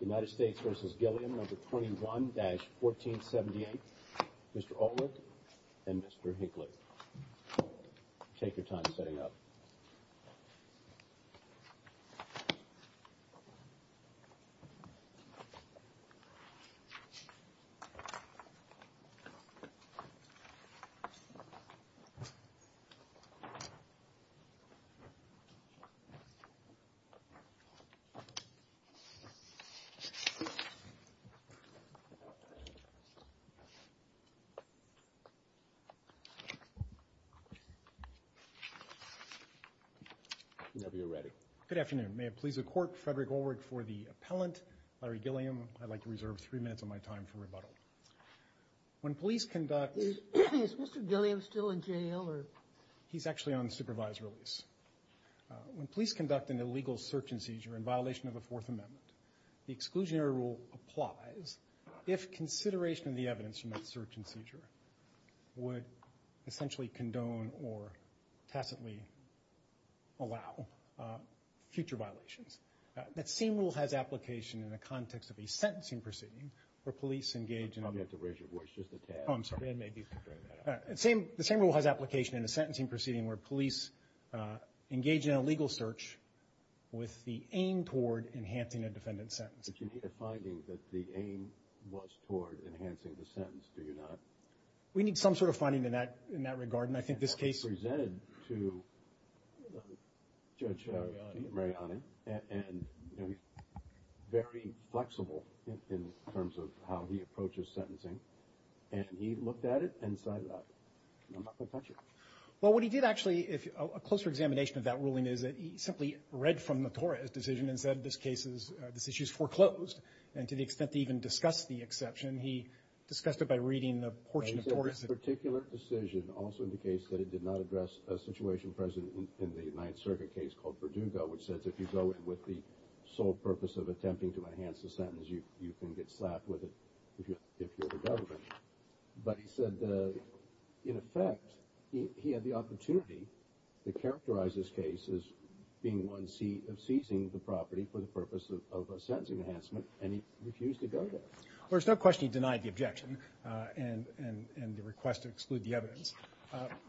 United States v. Gilliam No. 21-1478, Mr. Olick and Mr. Hinckley. Take your time setting up. Whenever you're ready. Good afternoon. May it please the court, Frederick Olick for the appellant, Larry Gilliam. I'd like to reserve three minutes of my time for rebuttal. When police conduct... Is Mr. Gilliam still in jail? He's actually on supervised release. When police conduct an illegal search and seizure in violation of the Fourth Amendment, the exclusionary rule applies if consideration of the evidence from that search and seizure would essentially condone or tacitly allow future violations. That same rule has application in the context of a sentencing proceeding where police engage in... I'm going to have to raise your voice just a tad. Oh, I'm sorry. The same rule has application in a sentencing proceeding where police engage in a legal search with the aim toward enhancing a defendant's sentence. But you need a finding that the aim was toward enhancing the sentence, do you not? We need some sort of finding in that regard, and I think this case... That was presented to Judge Mariani, and he's very flexible in terms of how he approaches sentencing, and he looked at it and decided, I'm not going to touch it. Well, what he did actually... A closer examination of that ruling is that he simply read from the Torres decision and said this issue is foreclosed, and to the extent to even discuss the exception, he discussed it by reading the portion of Torres that... He said this particular decision also indicates that it did not address a situation present in the Ninth Circuit case called Verdugo, which says if you go in with the sole purpose of attempting to enhance the sentence, you can get slapped with it if you're the government. But he said, in effect, he had the opportunity to characterize this case as being one of seizing the property for the purpose of a sentencing enhancement, and he refused to go there. Well, there's no question he denied the objection and the request to exclude the evidence.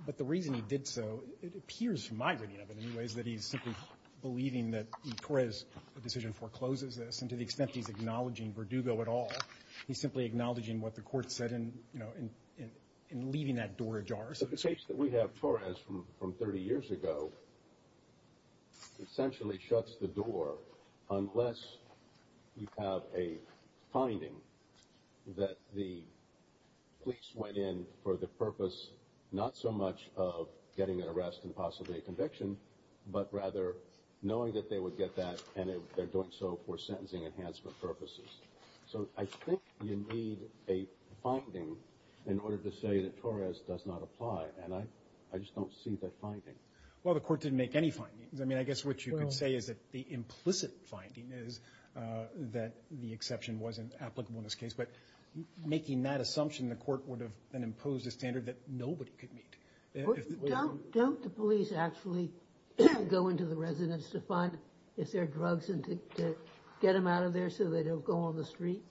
But the reason he did so, it appears from my reading of it anyway, is that he's simply believing that Torres' decision forecloses this, and to the extent he's acknowledging Verdugo at all, he's simply acknowledging what the court said and leaving that door ajar, so to speak. The case that we have Torres from 30 years ago essentially shuts the door unless you have a finding that the police went in for the purpose not so much of getting an arrest and possibly a conviction, but rather knowing that they would get that and they're doing so for sentencing enhancement purposes. So I think you need a finding in order to say that Torres does not apply, and I just don't see that finding. Well, the court didn't make any findings. I mean, I guess what you could say is that the implicit finding is that the exception wasn't applicable in this case. But making that assumption, the court would have then imposed a standard that nobody could meet. Don't the police actually go into the residence to find if there are drugs and to get them out of there so they don't go on the street?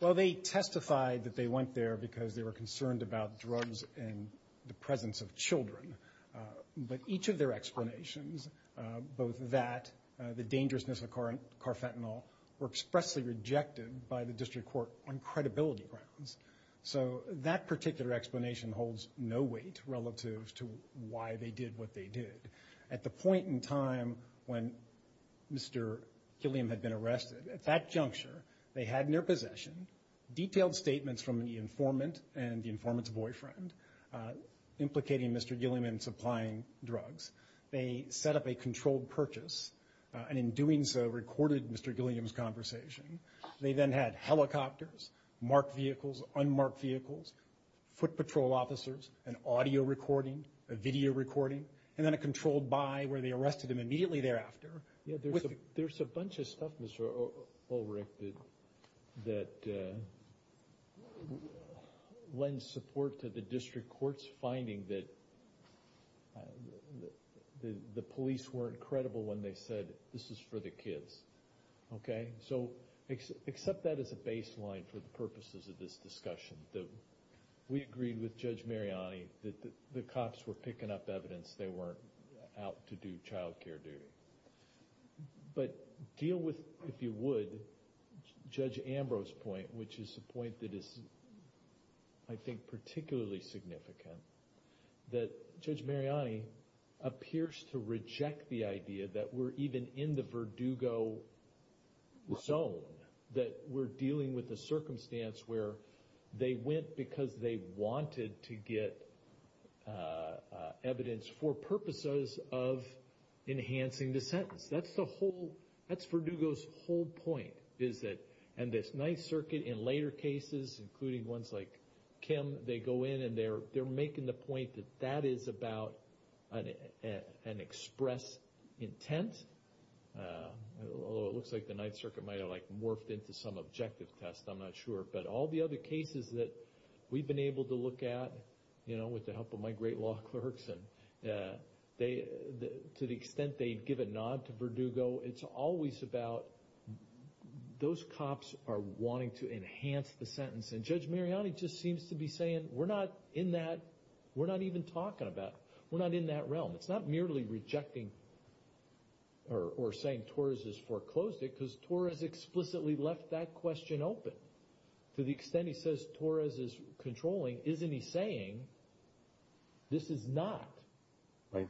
Well, they testified that they went there because they were concerned about drugs and the presence of children. But each of their explanations, both that, the dangerousness of carfentanil, were expressly rejected by the district court on credibility grounds. So that particular explanation holds no weight relative to why they did what they did. At the point in time when Mr. Gilliam had been arrested, at that juncture, they had in their possession detailed statements from the informant and the informant's boyfriend implicating Mr. Gilliam in supplying drugs. They set up a controlled purchase and in doing so recorded Mr. Gilliam's conversation. They then had helicopters, marked vehicles, unmarked vehicles, foot patrol officers, an audio recording, a video recording, and then a controlled buy where they arrested him immediately thereafter. There's a bunch of stuff, Mr. Ulrich, that lends support to the district court's finding that the police weren't credible when they said, this is for the kids. Okay? So accept that as a baseline for the purposes of this discussion. We agreed with Judge Mariani that the cops were picking up evidence they weren't out to do child care duty. But deal with, if you would, Judge Ambrose's point, which is a point that is, I think, particularly significant, that Judge Mariani appears to reject the idea that we're even in the Verdugo zone, that we're dealing with a circumstance where they went because they wanted to get evidence for purposes of enhancing the sentence. That's the whole, that's Verdugo's whole point, is that, and this Ninth Circuit in later cases, including ones like Kim, they go in and they're making the point that that is about an express intent. Although it looks like the Ninth Circuit might have like morphed into some objective test, I'm not sure. But all the other cases that we've been able to look at, you know, with the help of my great law clerks, and to the extent they give a nod to Verdugo, it's always about those cops are wanting to enhance the sentence. And Judge Mariani just seems to be saying, we're not in that, we're not even talking about, we're not in that realm. It's not merely rejecting or saying Torres has foreclosed it, because Torres explicitly left that question open. To the extent he says Torres is controlling, isn't he saying this is not a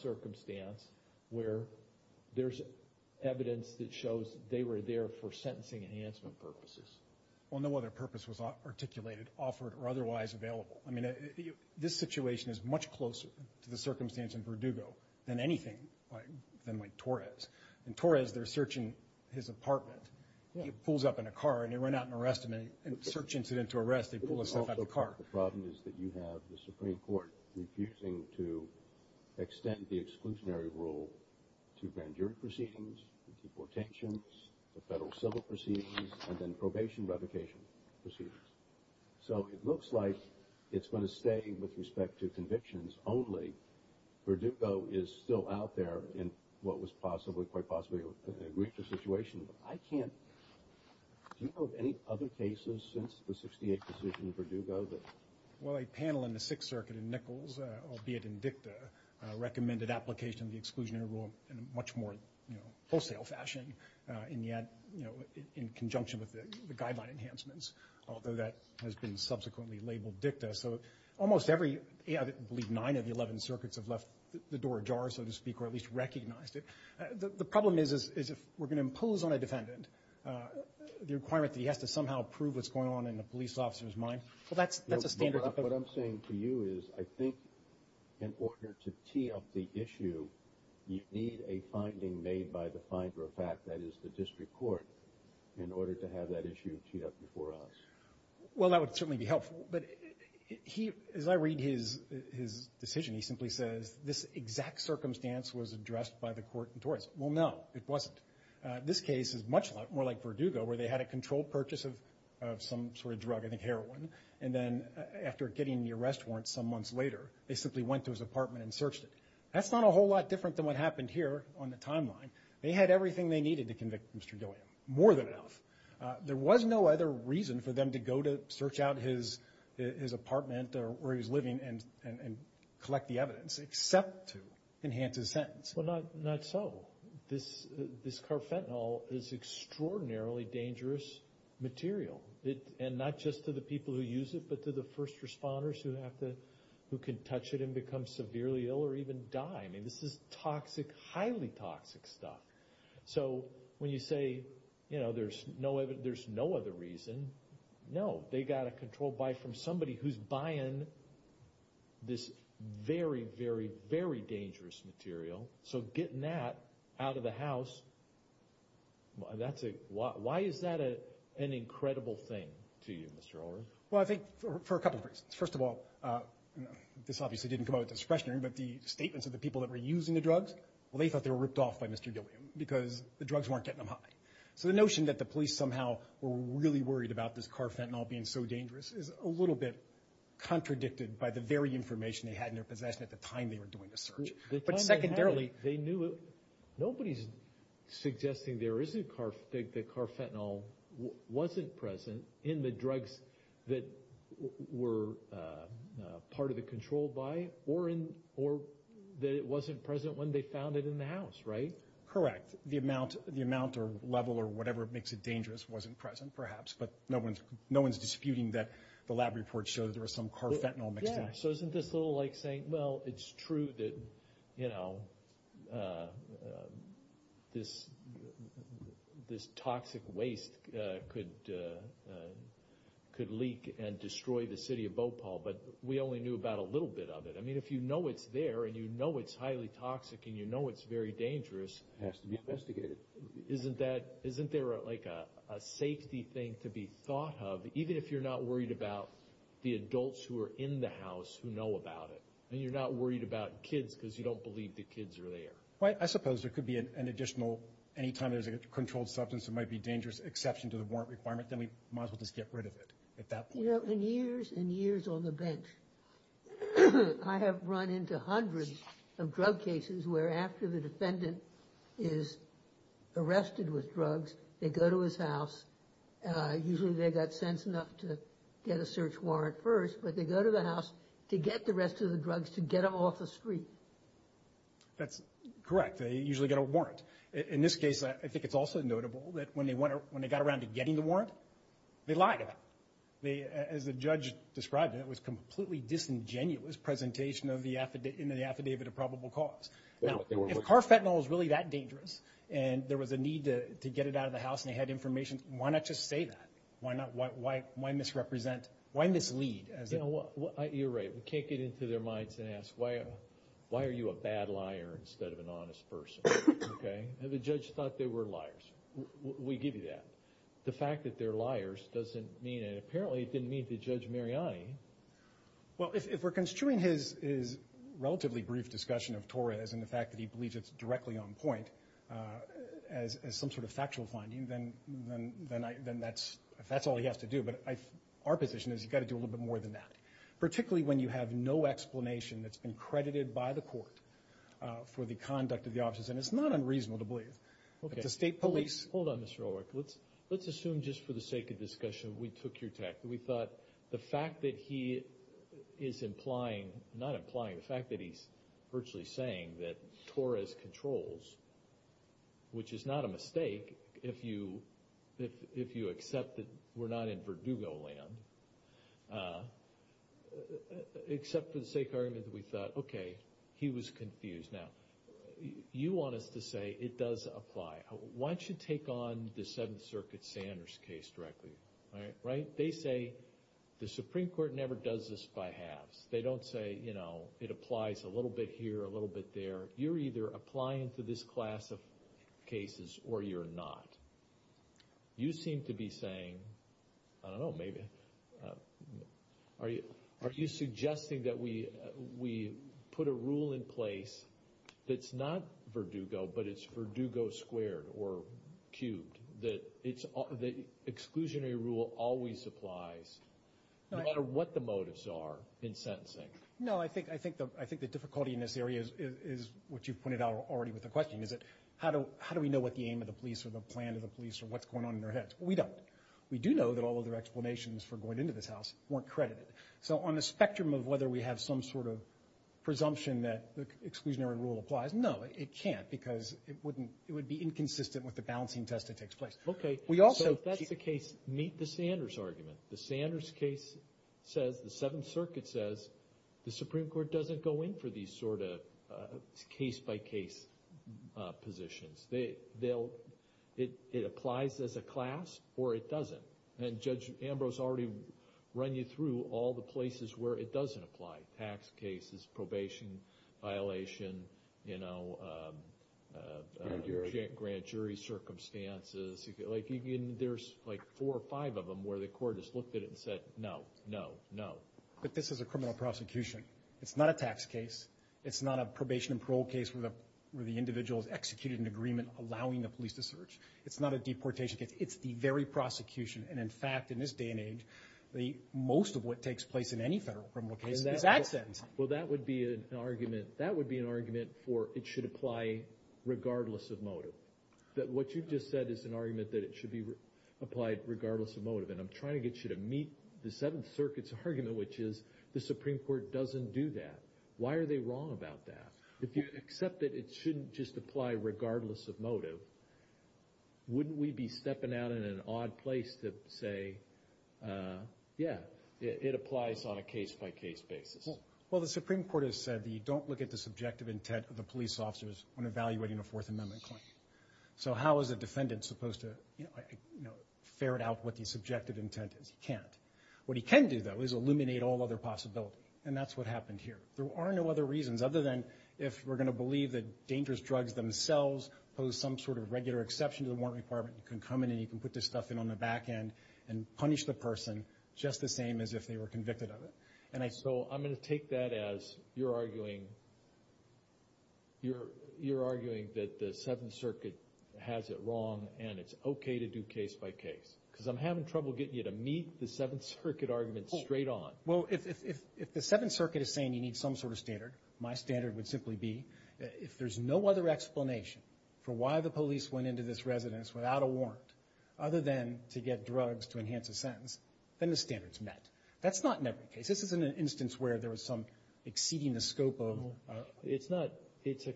circumstance where there's evidence that shows they were there for sentencing enhancement purposes? Well, no other purpose was articulated, offered, or otherwise available. I mean, this situation is much closer to the circumstance in Verdugo than anything like Torres. In Torres, they're searching his apartment. He pulls up in a car, and they run out and arrest him. In a search incident to arrest, they pull his stuff out of the car. The problem is that you have the Supreme Court refusing to extend the exclusionary rule to grand jury proceedings, deportations, the federal civil proceedings, and then probation revocation proceedings. So it looks like it's going to stay with respect to convictions only. Verdugo is still out there in what was possibly, quite possibly, a richer situation. But I can't – do you know of any other cases since the 68th decision in Verdugo that – Well, a panel in the Sixth Circuit in Nichols, albeit in dicta, recommended application of the exclusionary rule in a much more wholesale fashion, and yet in conjunction with the guideline enhancements, although that has been subsequently labeled dicta. So almost every – I believe nine of the 11 circuits have left the door ajar, so to speak, or at least recognized it. The problem is, is if we're going to impose on a defendant the requirement that he has to somehow prove what's going on in a police officer's mind, well, that's a standard. What I'm saying to you is I think in order to tee up the issue, you need a finding made by the finder of fact, that is the district court, in order to have that issue teed up before us. Well, that would certainly be helpful. But he – as I read his decision, he simply says this exact circumstance was addressed by the court in Torrance. Well, no, it wasn't. This case is much more like Verdugo, where they had a controlled purchase of some sort of drug, I think heroin, and then after getting the arrest warrant some months later, they simply went to his apartment and searched it. That's not a whole lot different than what happened here on the timeline. They had everything they needed to convict Mr. Gilliam, more than enough. There was no other reason for them to go to search out his apartment or where he was living and collect the evidence, except to enhance his sentence. Well, not so. This carfentanil is extraordinarily dangerous material, and not just to the people who use it, but to the first responders who have to – who can touch it and become severely ill or even die. I mean, this is toxic, highly toxic stuff. So when you say, you know, there's no other reason, no. They got a controlled buy from somebody who's buying this very, very, very dangerous material. So getting that out of the house, that's a – why is that an incredible thing to you, Mr. Ulrich? Well, I think for a couple of reasons. First of all, this obviously didn't come out of discretionary, but the statements of the people that were using the drugs, well, they thought they were ripped off by Mr. Gilliam because the drugs weren't getting them high. So the notion that the police somehow were really worried about this carfentanil being so dangerous is a little bit contradicted by the very information they had in their possession at the time they were doing the search. But secondarily, they knew – nobody's suggesting there isn't – that carfentanil wasn't present in the drugs that were part of the controlled buy or that it wasn't present when they found it in the house, right? Correct. The amount or level or whatever makes it dangerous wasn't present, perhaps, but no one's disputing that the lab reports show that there was some carfentanil mixed in. So isn't this a little like saying, well, it's true that, you know, this toxic waste could leak and destroy the city of Bhopal, but we only knew about a little bit of it. I mean, if you know it's there and you know it's highly toxic and you know it's very dangerous – It has to be investigated. Isn't that – isn't there like a safety thing to be thought of, even if you're not worried about the adults who are in the house who know about it, and you're not worried about kids because you don't believe the kids are there? I suppose there could be an additional – anytime there's a controlled substance that might be a dangerous exception to the warrant requirement, then we might as well just get rid of it at that point. You know, in years and years on the bench, I have run into hundreds of drug cases where after the defendant is arrested with drugs, they go to his house. Usually they got sense enough to get a search warrant first, but they go to the house to get the rest of the drugs to get them off the street. That's correct. They usually get a warrant. In this case, I think it's also notable that when they got around to getting the warrant, they lied about it. As the judge described it, it was a completely disingenuous presentation of the affidavit of probable cause. Now, if carfentanil is really that dangerous, and there was a need to get it out of the house and they had information, why not just say that? Why misrepresent – why mislead? You're right. We can't get into their minds and ask, why are you a bad liar instead of an honest person? The judge thought they were liars. We give you that. The fact that they're liars doesn't mean – and apparently it didn't mean to Judge Mariani. Well, if we're construing his relatively brief discussion of Torres and the fact that he believes it's directly on point as some sort of factual finding, then that's all he has to do. But our position is he's got to do a little bit more than that, particularly when you have no explanation that's been credited by the court for the conduct of the officers. And it's not unreasonable to believe that the state police – Let's assume just for the sake of discussion we took your tactic. We thought the fact that he is implying – not implying, the fact that he's virtually saying that Torres controls, which is not a mistake if you accept that we're not in Verdugo land, except for the sake of argument that we thought, okay, he was confused. Now, you want us to say it does apply. Why don't you take on the Seventh Circuit Sanders case directly, right? They say the Supreme Court never does this by halves. They don't say, you know, it applies a little bit here, a little bit there. You're either applying to this class of cases or you're not. You seem to be saying – I don't know, maybe – are you suggesting that we put a rule in place that's not Verdugo but it's Verdugo squared or cubed, that exclusionary rule always applies no matter what the motives are in sentencing? No, I think the difficulty in this area is what you pointed out already with the question, is that how do we know what the aim of the police or the plan of the police or what's going on in their heads? We don't. We do know that all of their explanations for going into this house weren't credited. So on the spectrum of whether we have some sort of presumption that the exclusionary rule applies, no, it can't because it would be inconsistent with the balancing test that takes place. Okay. So if that's the case, meet the Sanders argument. The Sanders case says, the Seventh Circuit says, the Supreme Court doesn't go in for these sort of case-by-case positions. It applies as a class or it doesn't. And Judge Ambrose already run you through all the places where it doesn't apply, tax cases, probation violation, grand jury circumstances. There's like four or five of them where the court has looked at it and said, no, no, no. But this is a criminal prosecution. It's not a tax case. It's not a probation and parole case where the individual has executed an agreement allowing the police to search. It's not a deportation case. It's the very prosecution. And, in fact, in this day and age, most of what takes place in any federal criminal case is absent. Well, that would be an argument for it should apply regardless of motive. What you just said is an argument that it should be applied regardless of motive. And I'm trying to get you to meet the Seventh Circuit's argument, which is the Supreme Court doesn't do that. Why are they wrong about that? If you accept that it shouldn't just apply regardless of motive, wouldn't we be stepping out in an odd place to say, yeah, it applies on a case-by-case basis? Well, the Supreme Court has said that you don't look at the subjective intent of the police officers when evaluating a Fourth Amendment claim. So how is a defendant supposed to ferret out what the subjective intent is? He can't. What he can do, though, is eliminate all other possibility. And that's what happened here. There are no other reasons other than if we're going to believe that dangerous drugs themselves pose some sort of regular exception to the warrant requirement, you can come in and you can put this stuff in on the back end and punish the person just the same as if they were convicted of it. And so I'm going to take that as you're arguing that the Seventh Circuit has it wrong and it's okay to do case-by-case. Because I'm having trouble getting you to meet the Seventh Circuit argument straight on. Well, if the Seventh Circuit is saying you need some sort of standard, my standard would simply be if there's no other explanation for why the police went into this residence without a warrant other than to get drugs to enhance a sentence, then the standard's met. That's not in every case. This isn't an instance where there was some exceeding the scope of. It's not. It's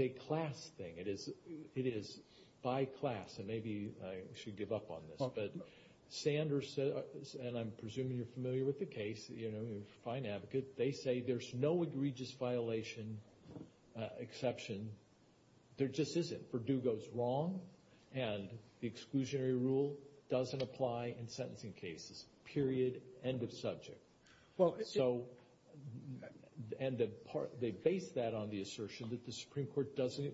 a class thing. It is by class. And maybe I should give up on this. But Sanders said, and I'm presuming you're familiar with the case, you know, you're a fine advocate. They say there's no egregious violation exception. There just isn't. If Perdue goes wrong and the exclusionary rule doesn't apply in sentencing cases, period, end of subject. So they base that on the assertion that the Supreme Court doesn't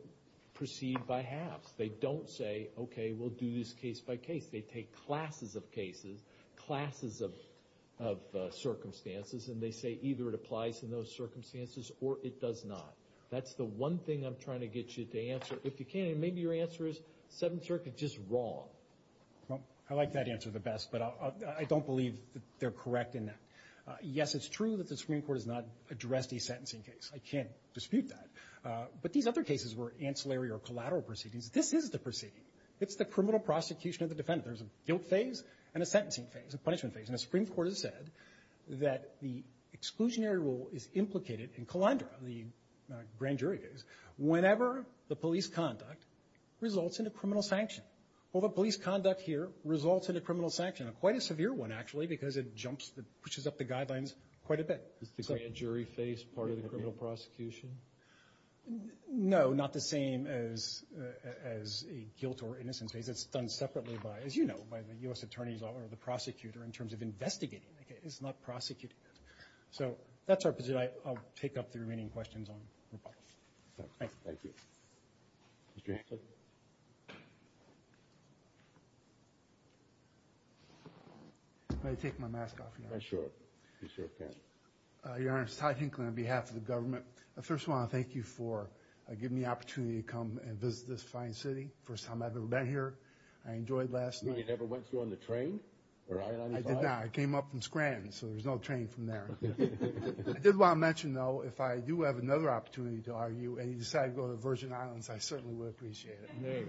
proceed by halves. They don't say, okay, we'll do this case-by-case. They take classes of cases, classes of circumstances, and they say either it applies in those circumstances or it does not. That's the one thing I'm trying to get you to answer. If you can, maybe your answer is Seventh Circuit just wrong. I like that answer the best, but I don't believe they're correct in that. Yes, it's true that the Supreme Court has not addressed a sentencing case. I can't dispute that. But these other cases were ancillary or collateral proceedings. This is the proceeding. It's the criminal prosecution of the defendant. There's a guilt phase and a sentencing phase, a punishment phase. And the Supreme Court has said that the exclusionary rule is implicated in Calandra, the grand jury case, whenever the police conduct results in a criminal sanction. Well, the police conduct here results in a criminal sanction, quite a severe one actually because it pushes up the guidelines quite a bit. Is the grand jury phase part of the criminal prosecution? No, not the same as a guilt or innocence phase. It's done separately by, as you know, by the U.S. attorneys or the prosecutor in terms of investigating the case, not prosecuting it. So that's our position. With that, I'll take up the remaining questions on rebuttals. Thank you. Thank you. Mr. Hanson? May I take my mask off, Your Honor? Sure. Be sure you can. Your Honor, it's Ty Hinckley on behalf of the government. First of all, I want to thank you for giving me the opportunity to come and visit this fine city. First time I've ever been here. I enjoyed last night. You never went through on the train or I-95? I did not. I came up from Scranton, so there's no train from there. I did want to mention, though, if I do have another opportunity to argue and you decide to go to Virgin Islands, I certainly would appreciate it.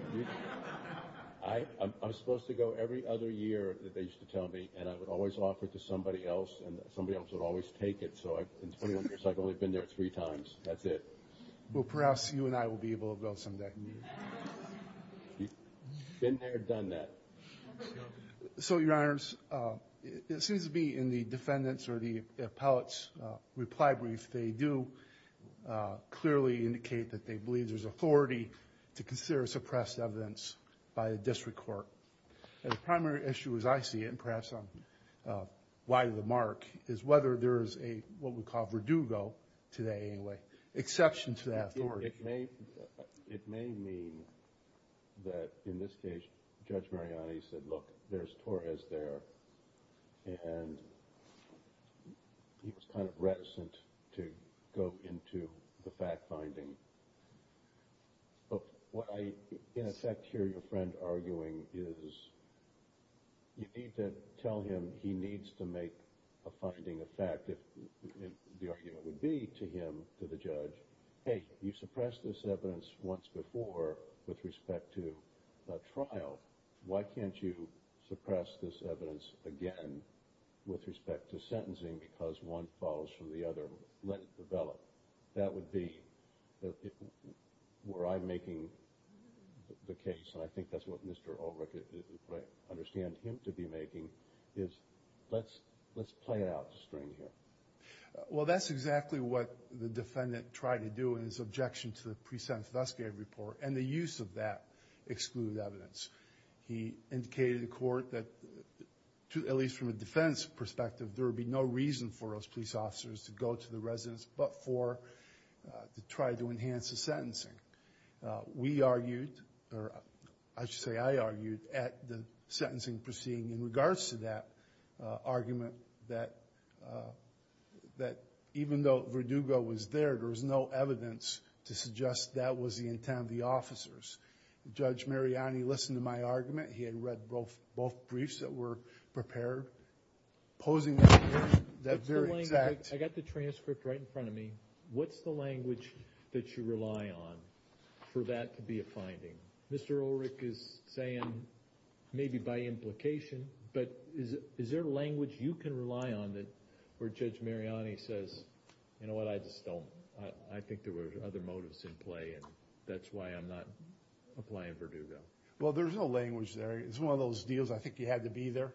I'm supposed to go every other year that they used to tell me, and I would always offer it to somebody else, and somebody else would always take it. So in 21 years, I've only been there three times. That's it. Well, perhaps you and I will be able to go someday. Been there, done that. So, Your Honors, it seems to me in the defendant's or the appellate's reply brief, they do clearly indicate that they believe there's authority to consider suppressed evidence by the district court. The primary issue, as I see it, and perhaps I'm wide of the mark, is whether there is a, what we call a verdugo today anyway, exception to that authority. It may mean that, in this case, Judge Mariani said, look, there's Torres there, and he was kind of reticent to go into the fact-finding. But what I, in effect, hear your friend arguing is you need to tell him he needs to make a finding of fact, if the argument would be to him, to the judge, hey, you suppressed this evidence once before with respect to a trial. Why can't you suppress this evidence again with respect to sentencing because one follows from the other? Let it develop. That would be, were I making the case, and I think that's what Mr. Ulrich, I understand him to be making, is let's play it out a string here. Well, that's exactly what the defendant tried to do in his objection to the pre-sentence investigative report, and the use of that excluded evidence. He indicated to the court that, at least from a defense perspective, there would be no reason for those police officers to go to the residence but to try to enhance the sentencing. We argued, or I should say I argued, at the sentencing proceeding in regards to that argument that even though Verdugo was there, there was no evidence to suggest that was the intent of the officers. Judge Mariani listened to my argument. He had read both briefs that were prepared. Posing that very exact... I got the transcript right in front of me. What's the language that you rely on for that to be a finding? Mr. Ulrich is saying maybe by implication, but is there language you can rely on where Judge Mariani says, you know what, I just don't. I think there were other motives in play, and that's why I'm not applying Verdugo. Well, there's no language there. It's one of those deals, I think you had to be there.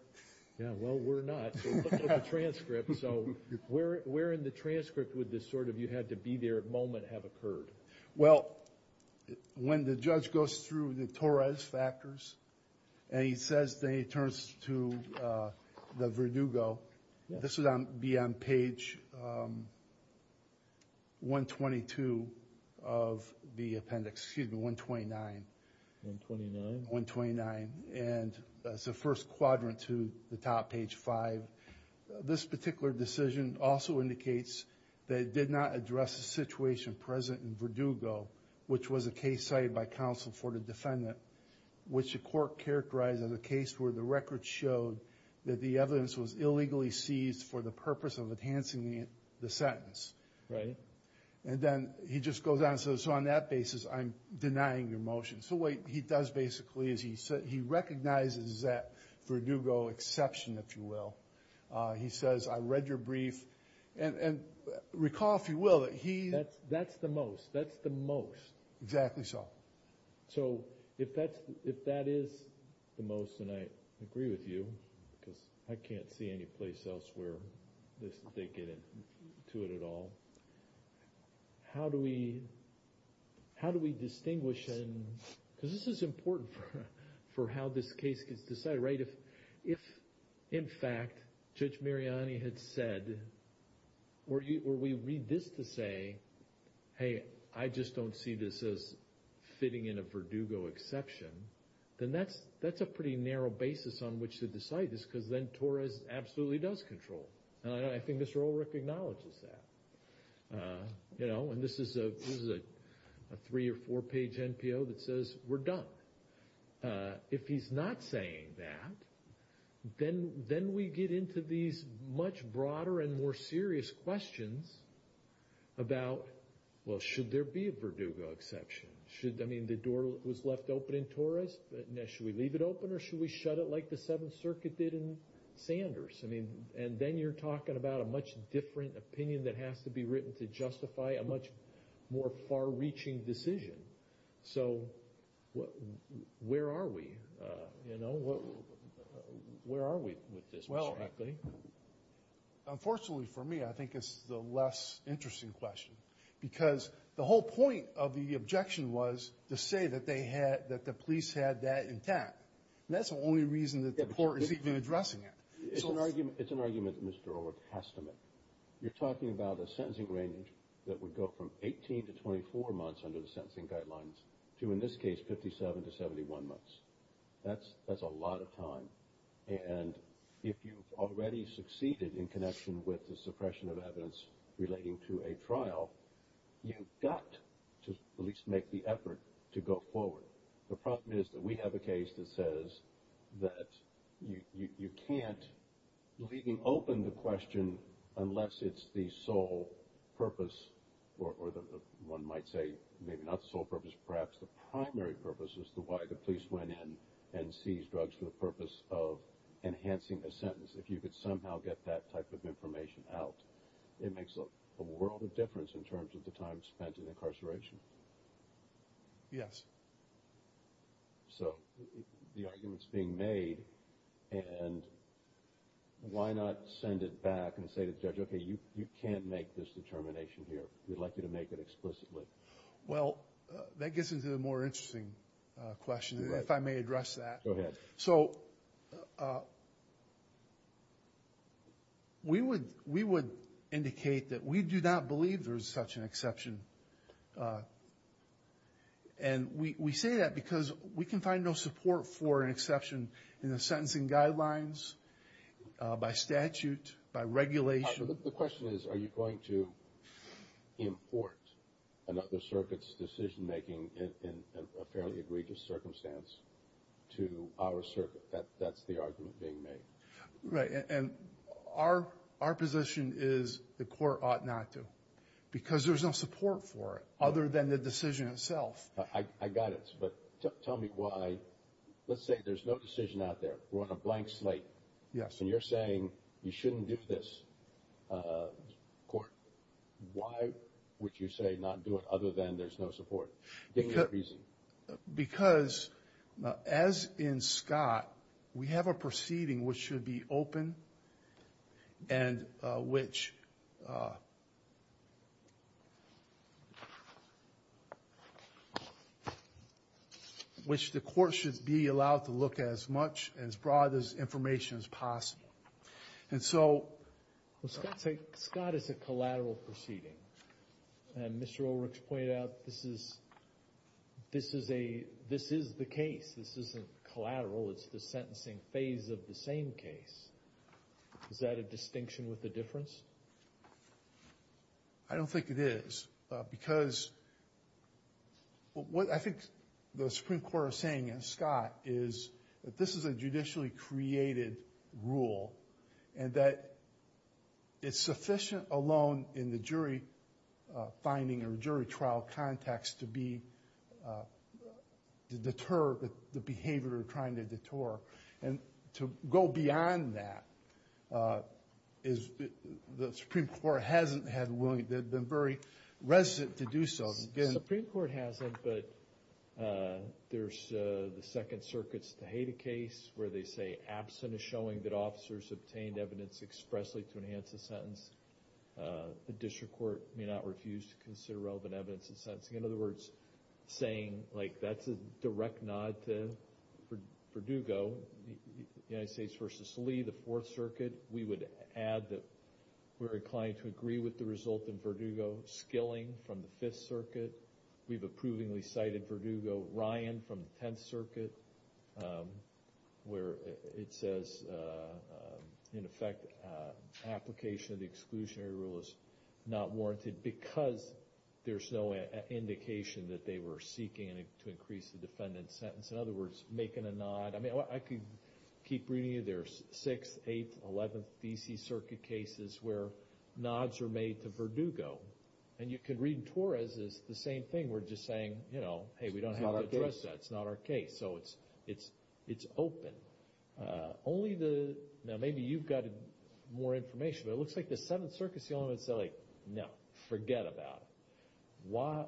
Yeah, well, we're not. We're looking at the transcript, so where in the transcript would this sort of you had to be there moment have occurred? Well, when the judge goes through the Torres factors and he says then he turns to the Verdugo, this would be on page 122 of the appendix, excuse me, 129. 129? 129, and that's the first quadrant to the top, page 5. This particular decision also indicates that it did not address the situation present in Verdugo, which was a case cited by counsel for the defendant, which the court characterized as a case where the record showed that the evidence was illegally seized for the purpose of enhancing the sentence. Right. And then he just goes on and says, so on that basis, I'm denying your motion. So what he does basically is he recognizes that Verdugo exception, if you will. He says, I read your brief, and recall, if you will, that he. That's the most. That's the most. Exactly so. So if that is the most, and I agree with you, because I can't see any place else where they get into it at all, how do we distinguish? Because this is important for how this case gets decided, right? If, in fact, Judge Mariani had said, or we read this to say, hey, I just don't see this as fitting in a Verdugo exception, then that's a pretty narrow basis on which to decide this, because then Torres absolutely does control. And I think Mr. Ulrich acknowledges that. And this is a three- or four-page NPO that says, we're done. If he's not saying that, then we get into these much broader and more serious questions about, well, should there be a Verdugo exception? I mean, the door was left open in Torres. Now, should we leave it open, or should we shut it like the Seventh Circuit did in Sanders? And then you're talking about a much different opinion that has to be written to justify a much more far-reaching decision. So where are we, you know? Where are we with this, Mr. Ackley? Well, unfortunately for me, I think it's the less interesting question, because the whole point of the objection was to say that the police had that intent. And that's the only reason that the court is even addressing it. It's an argument that Mr. Ulrich has to make. You're talking about a sentencing range that would go from 18 to 24 months under the sentencing guidelines to, in this case, 57 to 71 months. That's a lot of time. And if you've already succeeded in connection with the suppression of evidence relating to a trial, you've got to at least make the effort to go forward. The problem is that we have a case that says that you can't leave open the question unless it's the sole purpose, or one might say maybe not the sole purpose, perhaps the primary purpose is why the police went in and seized drugs for the purpose of enhancing the sentence. If you could somehow get that type of information out, it makes a world of difference in terms of the time spent in incarceration. Yes. So the argument's being made, and why not send it back and say to the judge, okay, you can't make this determination here. We'd like you to make it explicitly. Well, that gets into the more interesting question, if I may address that. Go ahead. So we would indicate that we do not believe there is such an exception. And we say that because we can find no support for an exception in the sentencing guidelines, by statute, by regulation. The question is, are you going to import another circuit's decision-making in a fairly egregious circumstance to our circuit? That's the argument being made. Right. And our position is the court ought not to, because there's no support for it other than the decision itself. I got it. But tell me why. Let's say there's no decision out there. We're on a blank slate. Yes. And you're saying you shouldn't do this, court. Why would you say not do it other than there's no support? Give me a reason. Because, as in Scott, we have a proceeding which should be open and which the court should be allowed to look as much, as broad information as possible. And so Scott is a collateral proceeding. And Mr. Ulrich pointed out this is the case. This isn't collateral. It's the sentencing phase of the same case. Is that a distinction with a difference? I don't think it is. Because what I think the Supreme Court is saying, as Scott, is that this is a judicially created rule and that it's sufficient alone in the jury finding or jury trial context to deter the behavior they're trying to deter. And to go beyond that, the Supreme Court hasn't had the willingness, they've been very resistant to do so. The Supreme Court hasn't, but there's the Second Circuit's Tejada case where they say, absent a showing that officers obtained evidence expressly to enhance a sentence, the district court may not refuse to consider relevant evidence in sentencing. In other words, saying that's a direct nod to Verdugo, United States v. Lee, the Fourth Circuit. We would add that we're inclined to agree with the result in Verdugo. Skilling from the Fifth Circuit. We've approvingly cited Verdugo. Ryan from the Tenth Circuit. Where it says, in effect, application of the exclusionary rule is not warranted because there's no indication that they were seeking to increase the defendant's sentence. In other words, making a nod. I mean, I could keep reading you. There's 6th, 8th, 11th D.C. Circuit cases where nods are made to Verdugo. And you could read Torres as the same thing. We're just saying, you know, hey, we don't have to address that. It's not our case. So it's open. Only the, now maybe you've got more information, but it looks like the Seventh Circuit's the only one that's like, no, forget about it.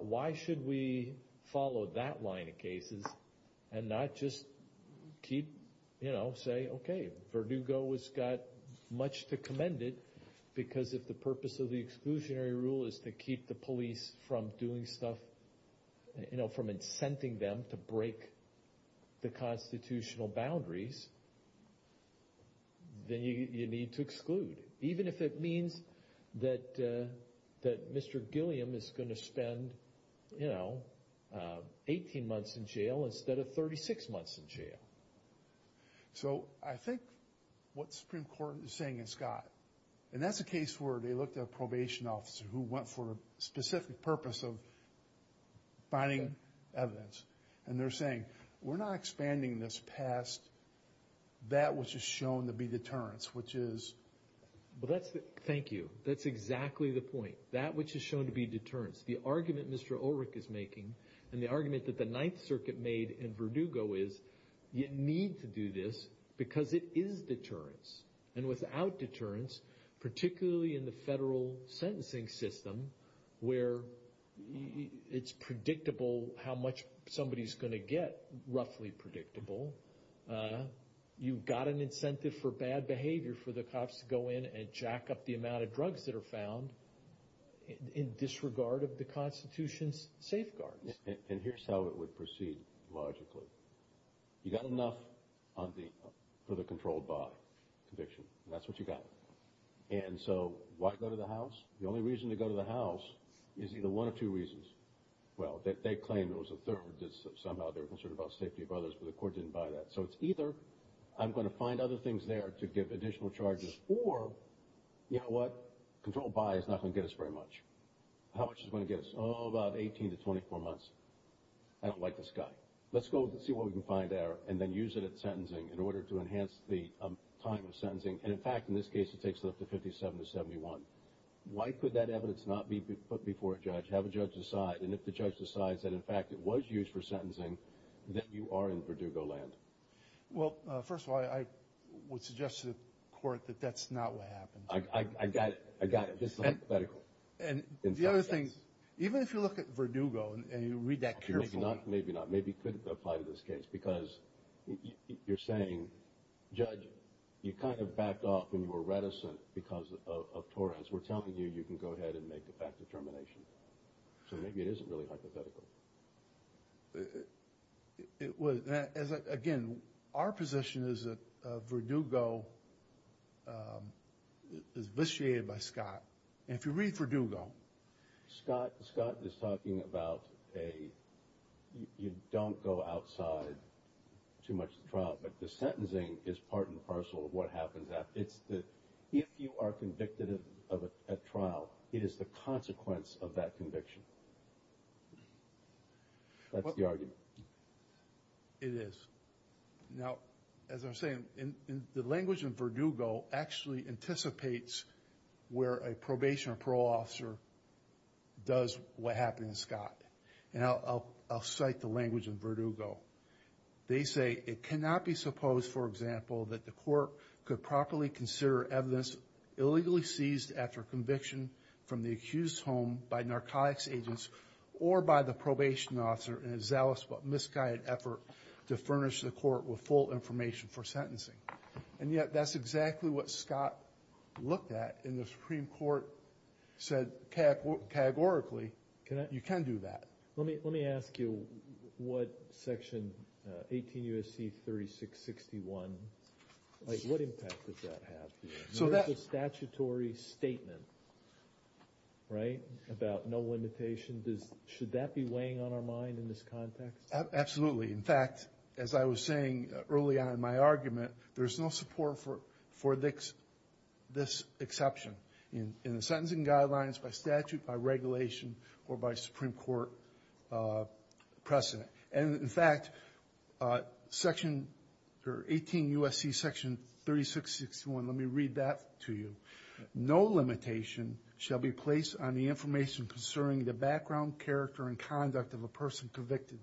Why should we follow that line of cases and not just keep, you know, say, okay, Verdugo has got much to commend it because if the purpose of the exclusionary rule is to keep the police from doing stuff, you know, from incenting them to break the constitutional boundaries, then you need to exclude. Even if it means that Mr. Gilliam is going to spend, you know, 18 months in jail instead of 36 months in jail. So I think what the Supreme Court is saying is Scott, and that's a case where they looked at a probation officer who went for a specific purpose of finding evidence. And they're saying, we're not expanding this past that which is shown to be deterrence, which is. Well, thank you. That's exactly the point. That which is shown to be deterrence. The argument Mr. Ulrich is making and the argument that the Ninth Circuit made in Verdugo is you need to do this because it is deterrence. And without deterrence, particularly in the federal sentencing system, where it's predictable how much somebody is going to get, roughly predictable, you've got an incentive for bad behavior for the cops to go in and jack up the amount of drugs that are found in disregard of the Constitution's safeguards. And here's how it would proceed logically. You got enough for the controlled by conviction. That's what you got. And so why go to the house? The only reason to go to the house is either one of two reasons. Well, they claim it was a third. Somehow they're concerned about safety of others, but the court didn't buy that. So it's either I'm going to find other things there to give additional charges, or you know what? Controlled by is not going to get us very much. How much is it going to get us? Oh, about 18 to 24 months. I don't like this guy. Let's go see what we can find there and then use it at sentencing in order to enhance the time of sentencing. And, in fact, in this case it takes it up to 57 to 71. Why could that evidence not be put before a judge, have a judge decide, and if the judge decides that, in fact, it was used for sentencing, then you are in Verdugo land. Well, first of all, I would suggest to the court that that's not what happened. I got it. I got it. It's hypothetical. And the other thing, even if you look at Verdugo and you read that case law. Maybe not. Maybe it couldn't apply to this case because you're saying, Judge, you kind of backed off and you were reticent because of Torrance. We're telling you you can go ahead and make a fact determination. So maybe it isn't really hypothetical. Again, our position is that Verdugo is vitiated by Scott. And if you read Verdugo. Scott is talking about you don't go outside too much of the trial, but the sentencing is part and parcel of what happens after. It's that if you are convicted of a trial, it is the consequence of that conviction. That's the argument. It is. Now, as I was saying, the language in Verdugo actually anticipates where a probation or parole officer does what happened to Scott. And I'll cite the language in Verdugo. They say, it cannot be supposed, for example, that the court could properly consider evidence illegally seized after conviction from the accused's home by narcotics agents or by the probation officer in a zealous but misguided effort to furnish the court with full information for sentencing. And yet that's exactly what Scott looked at in the Supreme Court, said categorically, you can do that. Let me ask you what section 18 U.S.C. 3661, what impact does that have? It's a statutory statement, right, about no limitation. Should that be weighing on our mind in this context? Absolutely. In fact, as I was saying early on in my argument, there's no support for this exception in the sentencing guidelines by statute, by regulation, or by Supreme Court precedent. And, in fact, section 18 U.S.C. section 3661, let me read that to you. No limitation shall be placed on the information concerning the background, character, and conduct of a person convicted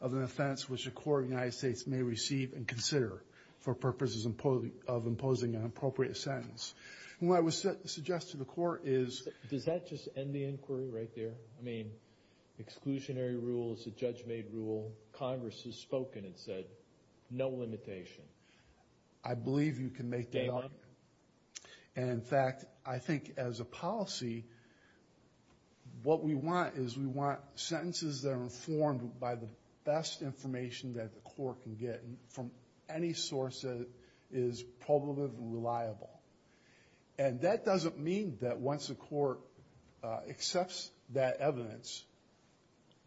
of an offense which a court of the United States may receive and consider for purposes of imposing an appropriate sentence. And what I would suggest to the court is... Does that just end the inquiry right there? I mean, exclusionary rule is a judge-made rule. Congress has spoken and said no limitation. I believe you can make the argument. And, in fact, I think as a policy, what we want is we want sentences that are informed by the best information that the court can get from any source that is probative and reliable. And that doesn't mean that once a court accepts that evidence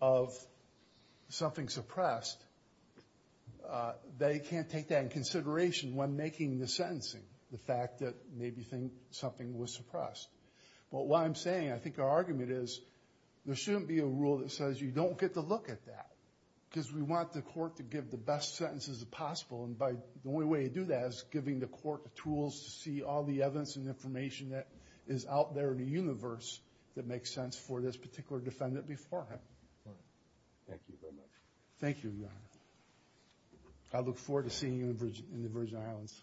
of something suppressed, they can't take that in consideration when making the sentencing, the fact that maybe something was suppressed. But what I'm saying, I think our argument is, there shouldn't be a rule that says you don't get to look at that because we want the court to give the best sentences possible. And the only way to do that is giving the court the tools to see all the evidence and information that is out there in the universe that makes sense for this particular defendant beforehand. Thank you very much. Thank you, Your Honor. I look forward to seeing you in the Virgin Islands.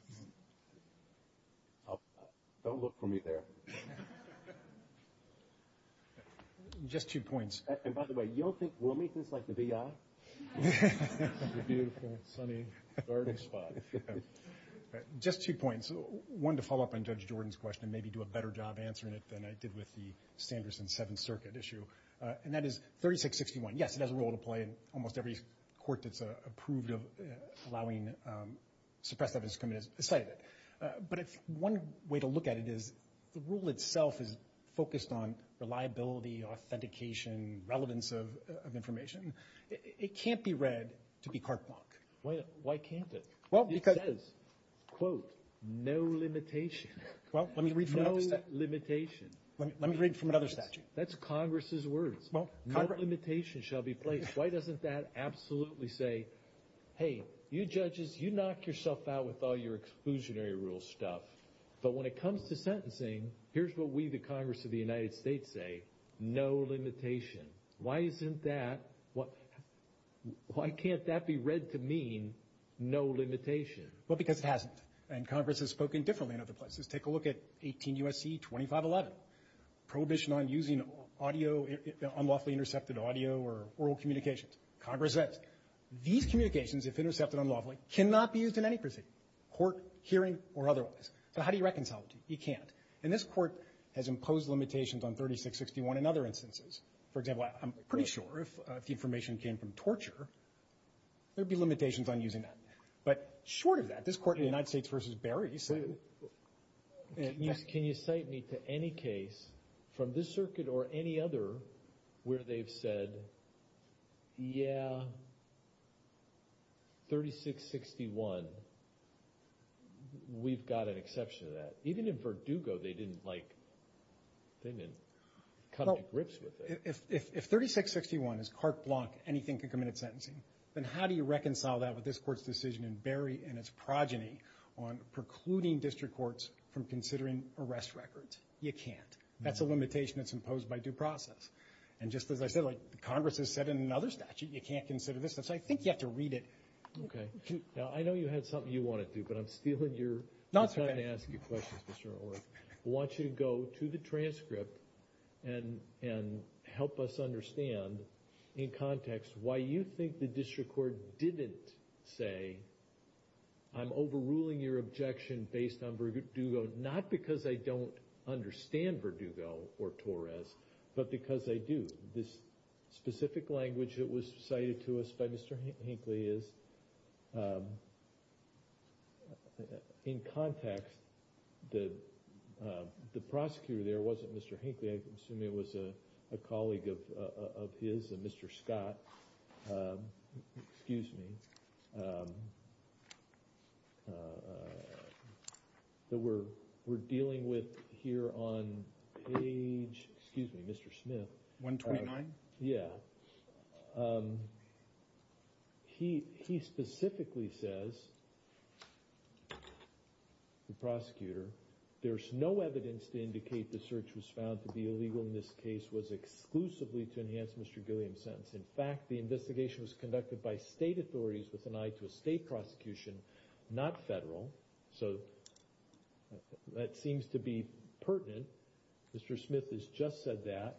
Don't look for me there. Just two points. And, by the way, you don't think Wilmington is like the B.I.? Beautiful, sunny, garden spot. Just two points. One, to follow up on Judge Jordan's question and maybe do a better job answering it than I did with the Sanderson Seventh Circuit issue. And that is 3661. Yes, it has a role to play in almost every court that's approved of allowing suppressed evidence to commit a site of it. But one way to look at it is the rule itself is focused on reliability, authentication, relevance of information. It can't be read to be carte blanche. Why can't it? It says, quote, no limitation. No limitation. Let me read from another statute. That's Congress's words. No limitation shall be placed. Why doesn't that absolutely say, hey, you judges, you knock yourself out with all your exclusionary rule stuff. But when it comes to sentencing, here's what we, the Congress of the United States, say. No limitation. Why isn't that? Why can't that be read to mean no limitation? Well, because it hasn't. And Congress has spoken differently in other places. Take a look at 18 U.S.C. 2511. Prohibition on using audio, unlawfully intercepted audio or oral communications. Congress says these communications, if intercepted unlawfully, cannot be used in any proceeding, court, hearing, or otherwise. So how do you reconcile it? You can't. And this court has imposed limitations on 3661 and other instances. For example, I'm pretty sure if the information came from torture, there would be limitations on using that. But short of that, this court in the United States v. Berry said. Can you cite me to any case from this circuit or any other where they've said, yeah, 3661. We've got an exception to that. Even in Verdugo, they didn't like, they didn't come to grips with it. If 3661 is carte blanche, anything can come in at sentencing, then how do you reconcile that with this court's decision in Berry and its progeny on precluding district courts from considering arrest records? You can't. That's a limitation that's imposed by due process. And just as I said, like Congress has said in another statute, you can't consider this. So I think you have to read it. Okay. Now, I know you had something you wanted to do, but I'm stealing your time to ask you questions, Mr. Orr. I want you to go to the transcript and help us understand in context why you think the prosecutors say, I'm overruling your objection based on Verdugo, not because I don't understand Verdugo or Torres, but because they do. This specific language that was cited to us by Mr. Hinckley is, in context, the prosecutor there wasn't Mr. Hinckley. I assume it was a colleague of his, a Mr. Scott, excuse me, that we're dealing with here on page, excuse me, Mr. Smith. 129? Yeah. He specifically says, the prosecutor, there's no evidence to indicate the search was found to be illegal in this case was exclusively to enhance Mr. Gilliam's sentence. In fact, the investigation was conducted by state authorities with an eye to a state prosecution, not federal. So that seems to be pertinent. Mr. Smith has just said that.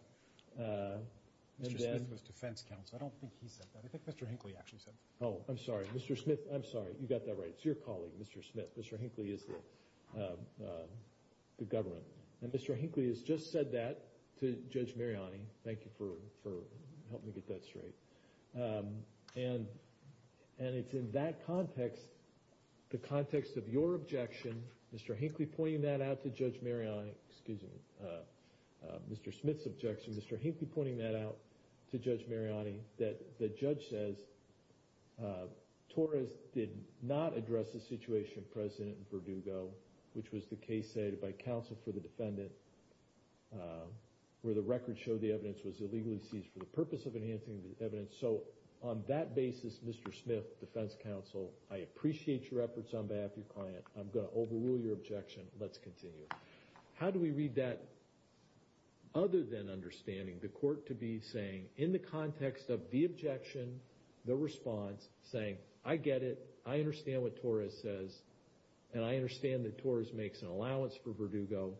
Mr. Smith was defense counsel. I don't think he said that. I think Mr. Hinckley actually said that. Oh, I'm sorry. Mr. Smith, I'm sorry. You got that right. It's your colleague, Mr. Smith. Mr. Hinckley is the government. And Mr. Hinckley has just said that to Judge Mariani. Thank you for helping me get that straight. And it's in that context, the context of your objection, Mr. Hinckley pointing that out to Judge Mariani, excuse me, Mr. Smith's objection, Mr. Hinckley pointing that out to Judge Mariani, that the judge says Torres did not address the situation of President Verdugo, which was the case cited by counsel for the defendant, where the record showed the evidence was illegally seized for the purpose of enhancing the evidence. So on that basis, Mr. Smith, defense counsel, I appreciate your efforts on behalf of your client. I'm going to overrule your objection. Let's continue. How do we read that other than understanding the court to be saying, in the context of the objection, the response, saying, I get it, I understand what Torres says, and I understand that Torres makes an allowance for Verdugo,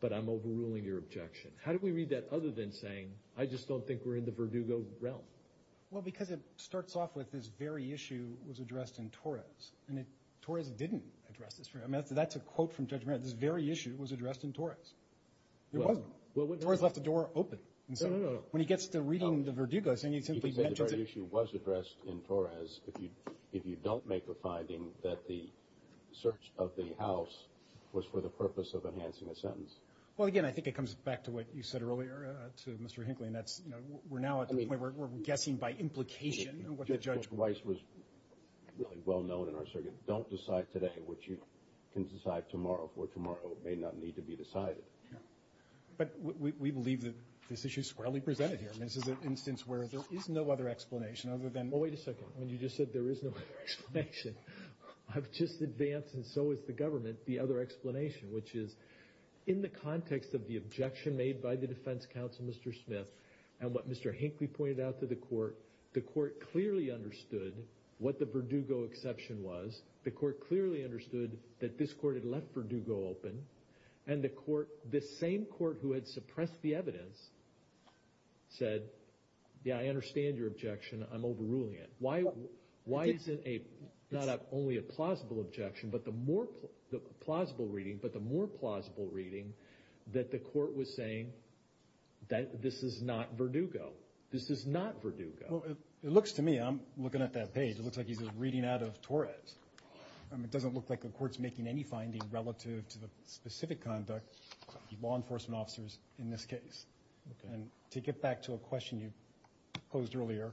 but I'm overruling your objection. How do we read that other than saying, I just don't think we're in the Verdugo realm? Well, because it starts off with this very issue was addressed in Torres. And Torres didn't address this. I mean, that's a quote from Judge Mariani. This very issue was addressed in Torres. It wasn't. Torres left the door open. No, no, no, no. When he gets to reading the Verdugo, he simply mentions it. You said the very issue was addressed in Torres if you don't make a finding that the search of the house was for the purpose of enhancing a sentence. Well, again, I think it comes back to what you said earlier to Mr. Hinckley, and that's we're now at the point where we're guessing by implication what the judge will say. And that was really well known in our circuit. Don't decide today what you can decide tomorrow, for tomorrow may not need to be decided. But we believe that this issue is squarely presented here. I mean, this is an instance where there is no other explanation other than – Well, wait a second. When you just said there is no other explanation, I've just advanced, and so has the government, the other explanation, which is in the context of the objection made by the defense counsel, Mr. Smith, and what Mr. Hinckley pointed out to the court, the court clearly understood what the Verdugo exception was. The court clearly understood that this court had left Verdugo open. And the same court who had suppressed the evidence said, yeah, I understand your objection. I'm overruling it. Why is it not only a plausible objection, but the more plausible reading that the court was saying that this is not Verdugo? This is not Verdugo. Well, it looks to me – I'm looking at that page. It looks like he's reading out of Torres. It doesn't look like the court's making any findings relative to the specific conduct of the law enforcement officers in this case. And to get back to a question you posed earlier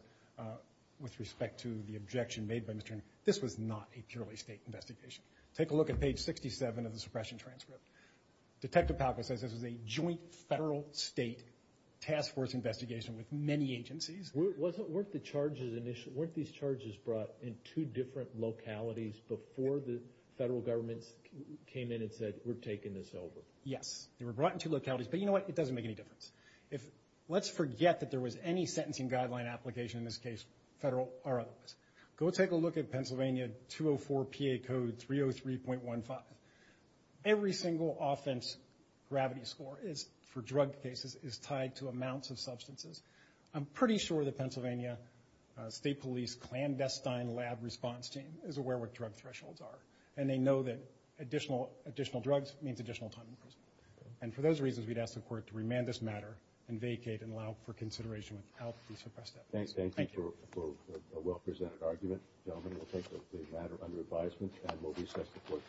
with respect to the objection made by Mr. Hinckley, this was not a purely state investigation. Take a look at page 67 of the suppression transcript. Detective Palka says this was a joint federal-state task force investigation with many agencies. Weren't these charges brought in two different localities before the federal governments came in and said, we're taking this over? Yes. They were brought in two localities. But you know what? It doesn't make any difference. Let's forget that there was any sentencing guideline application in this case, federal or otherwise. Go take a look at Pennsylvania 204 PA Code 303.15. Every single offense gravity score for drug cases is tied to amounts of substances. I'm pretty sure the Pennsylvania State Police clandestine lab response team is aware what drug thresholds are. And they know that additional drugs means additional time in prison. And for those reasons, we'd ask the court to remand this matter and vacate and allow it for consideration without the suppressed evidence. Thank you. Thank you for a well-presented argument. Gentlemen, we'll take the matter under advisement and we'll recess the court.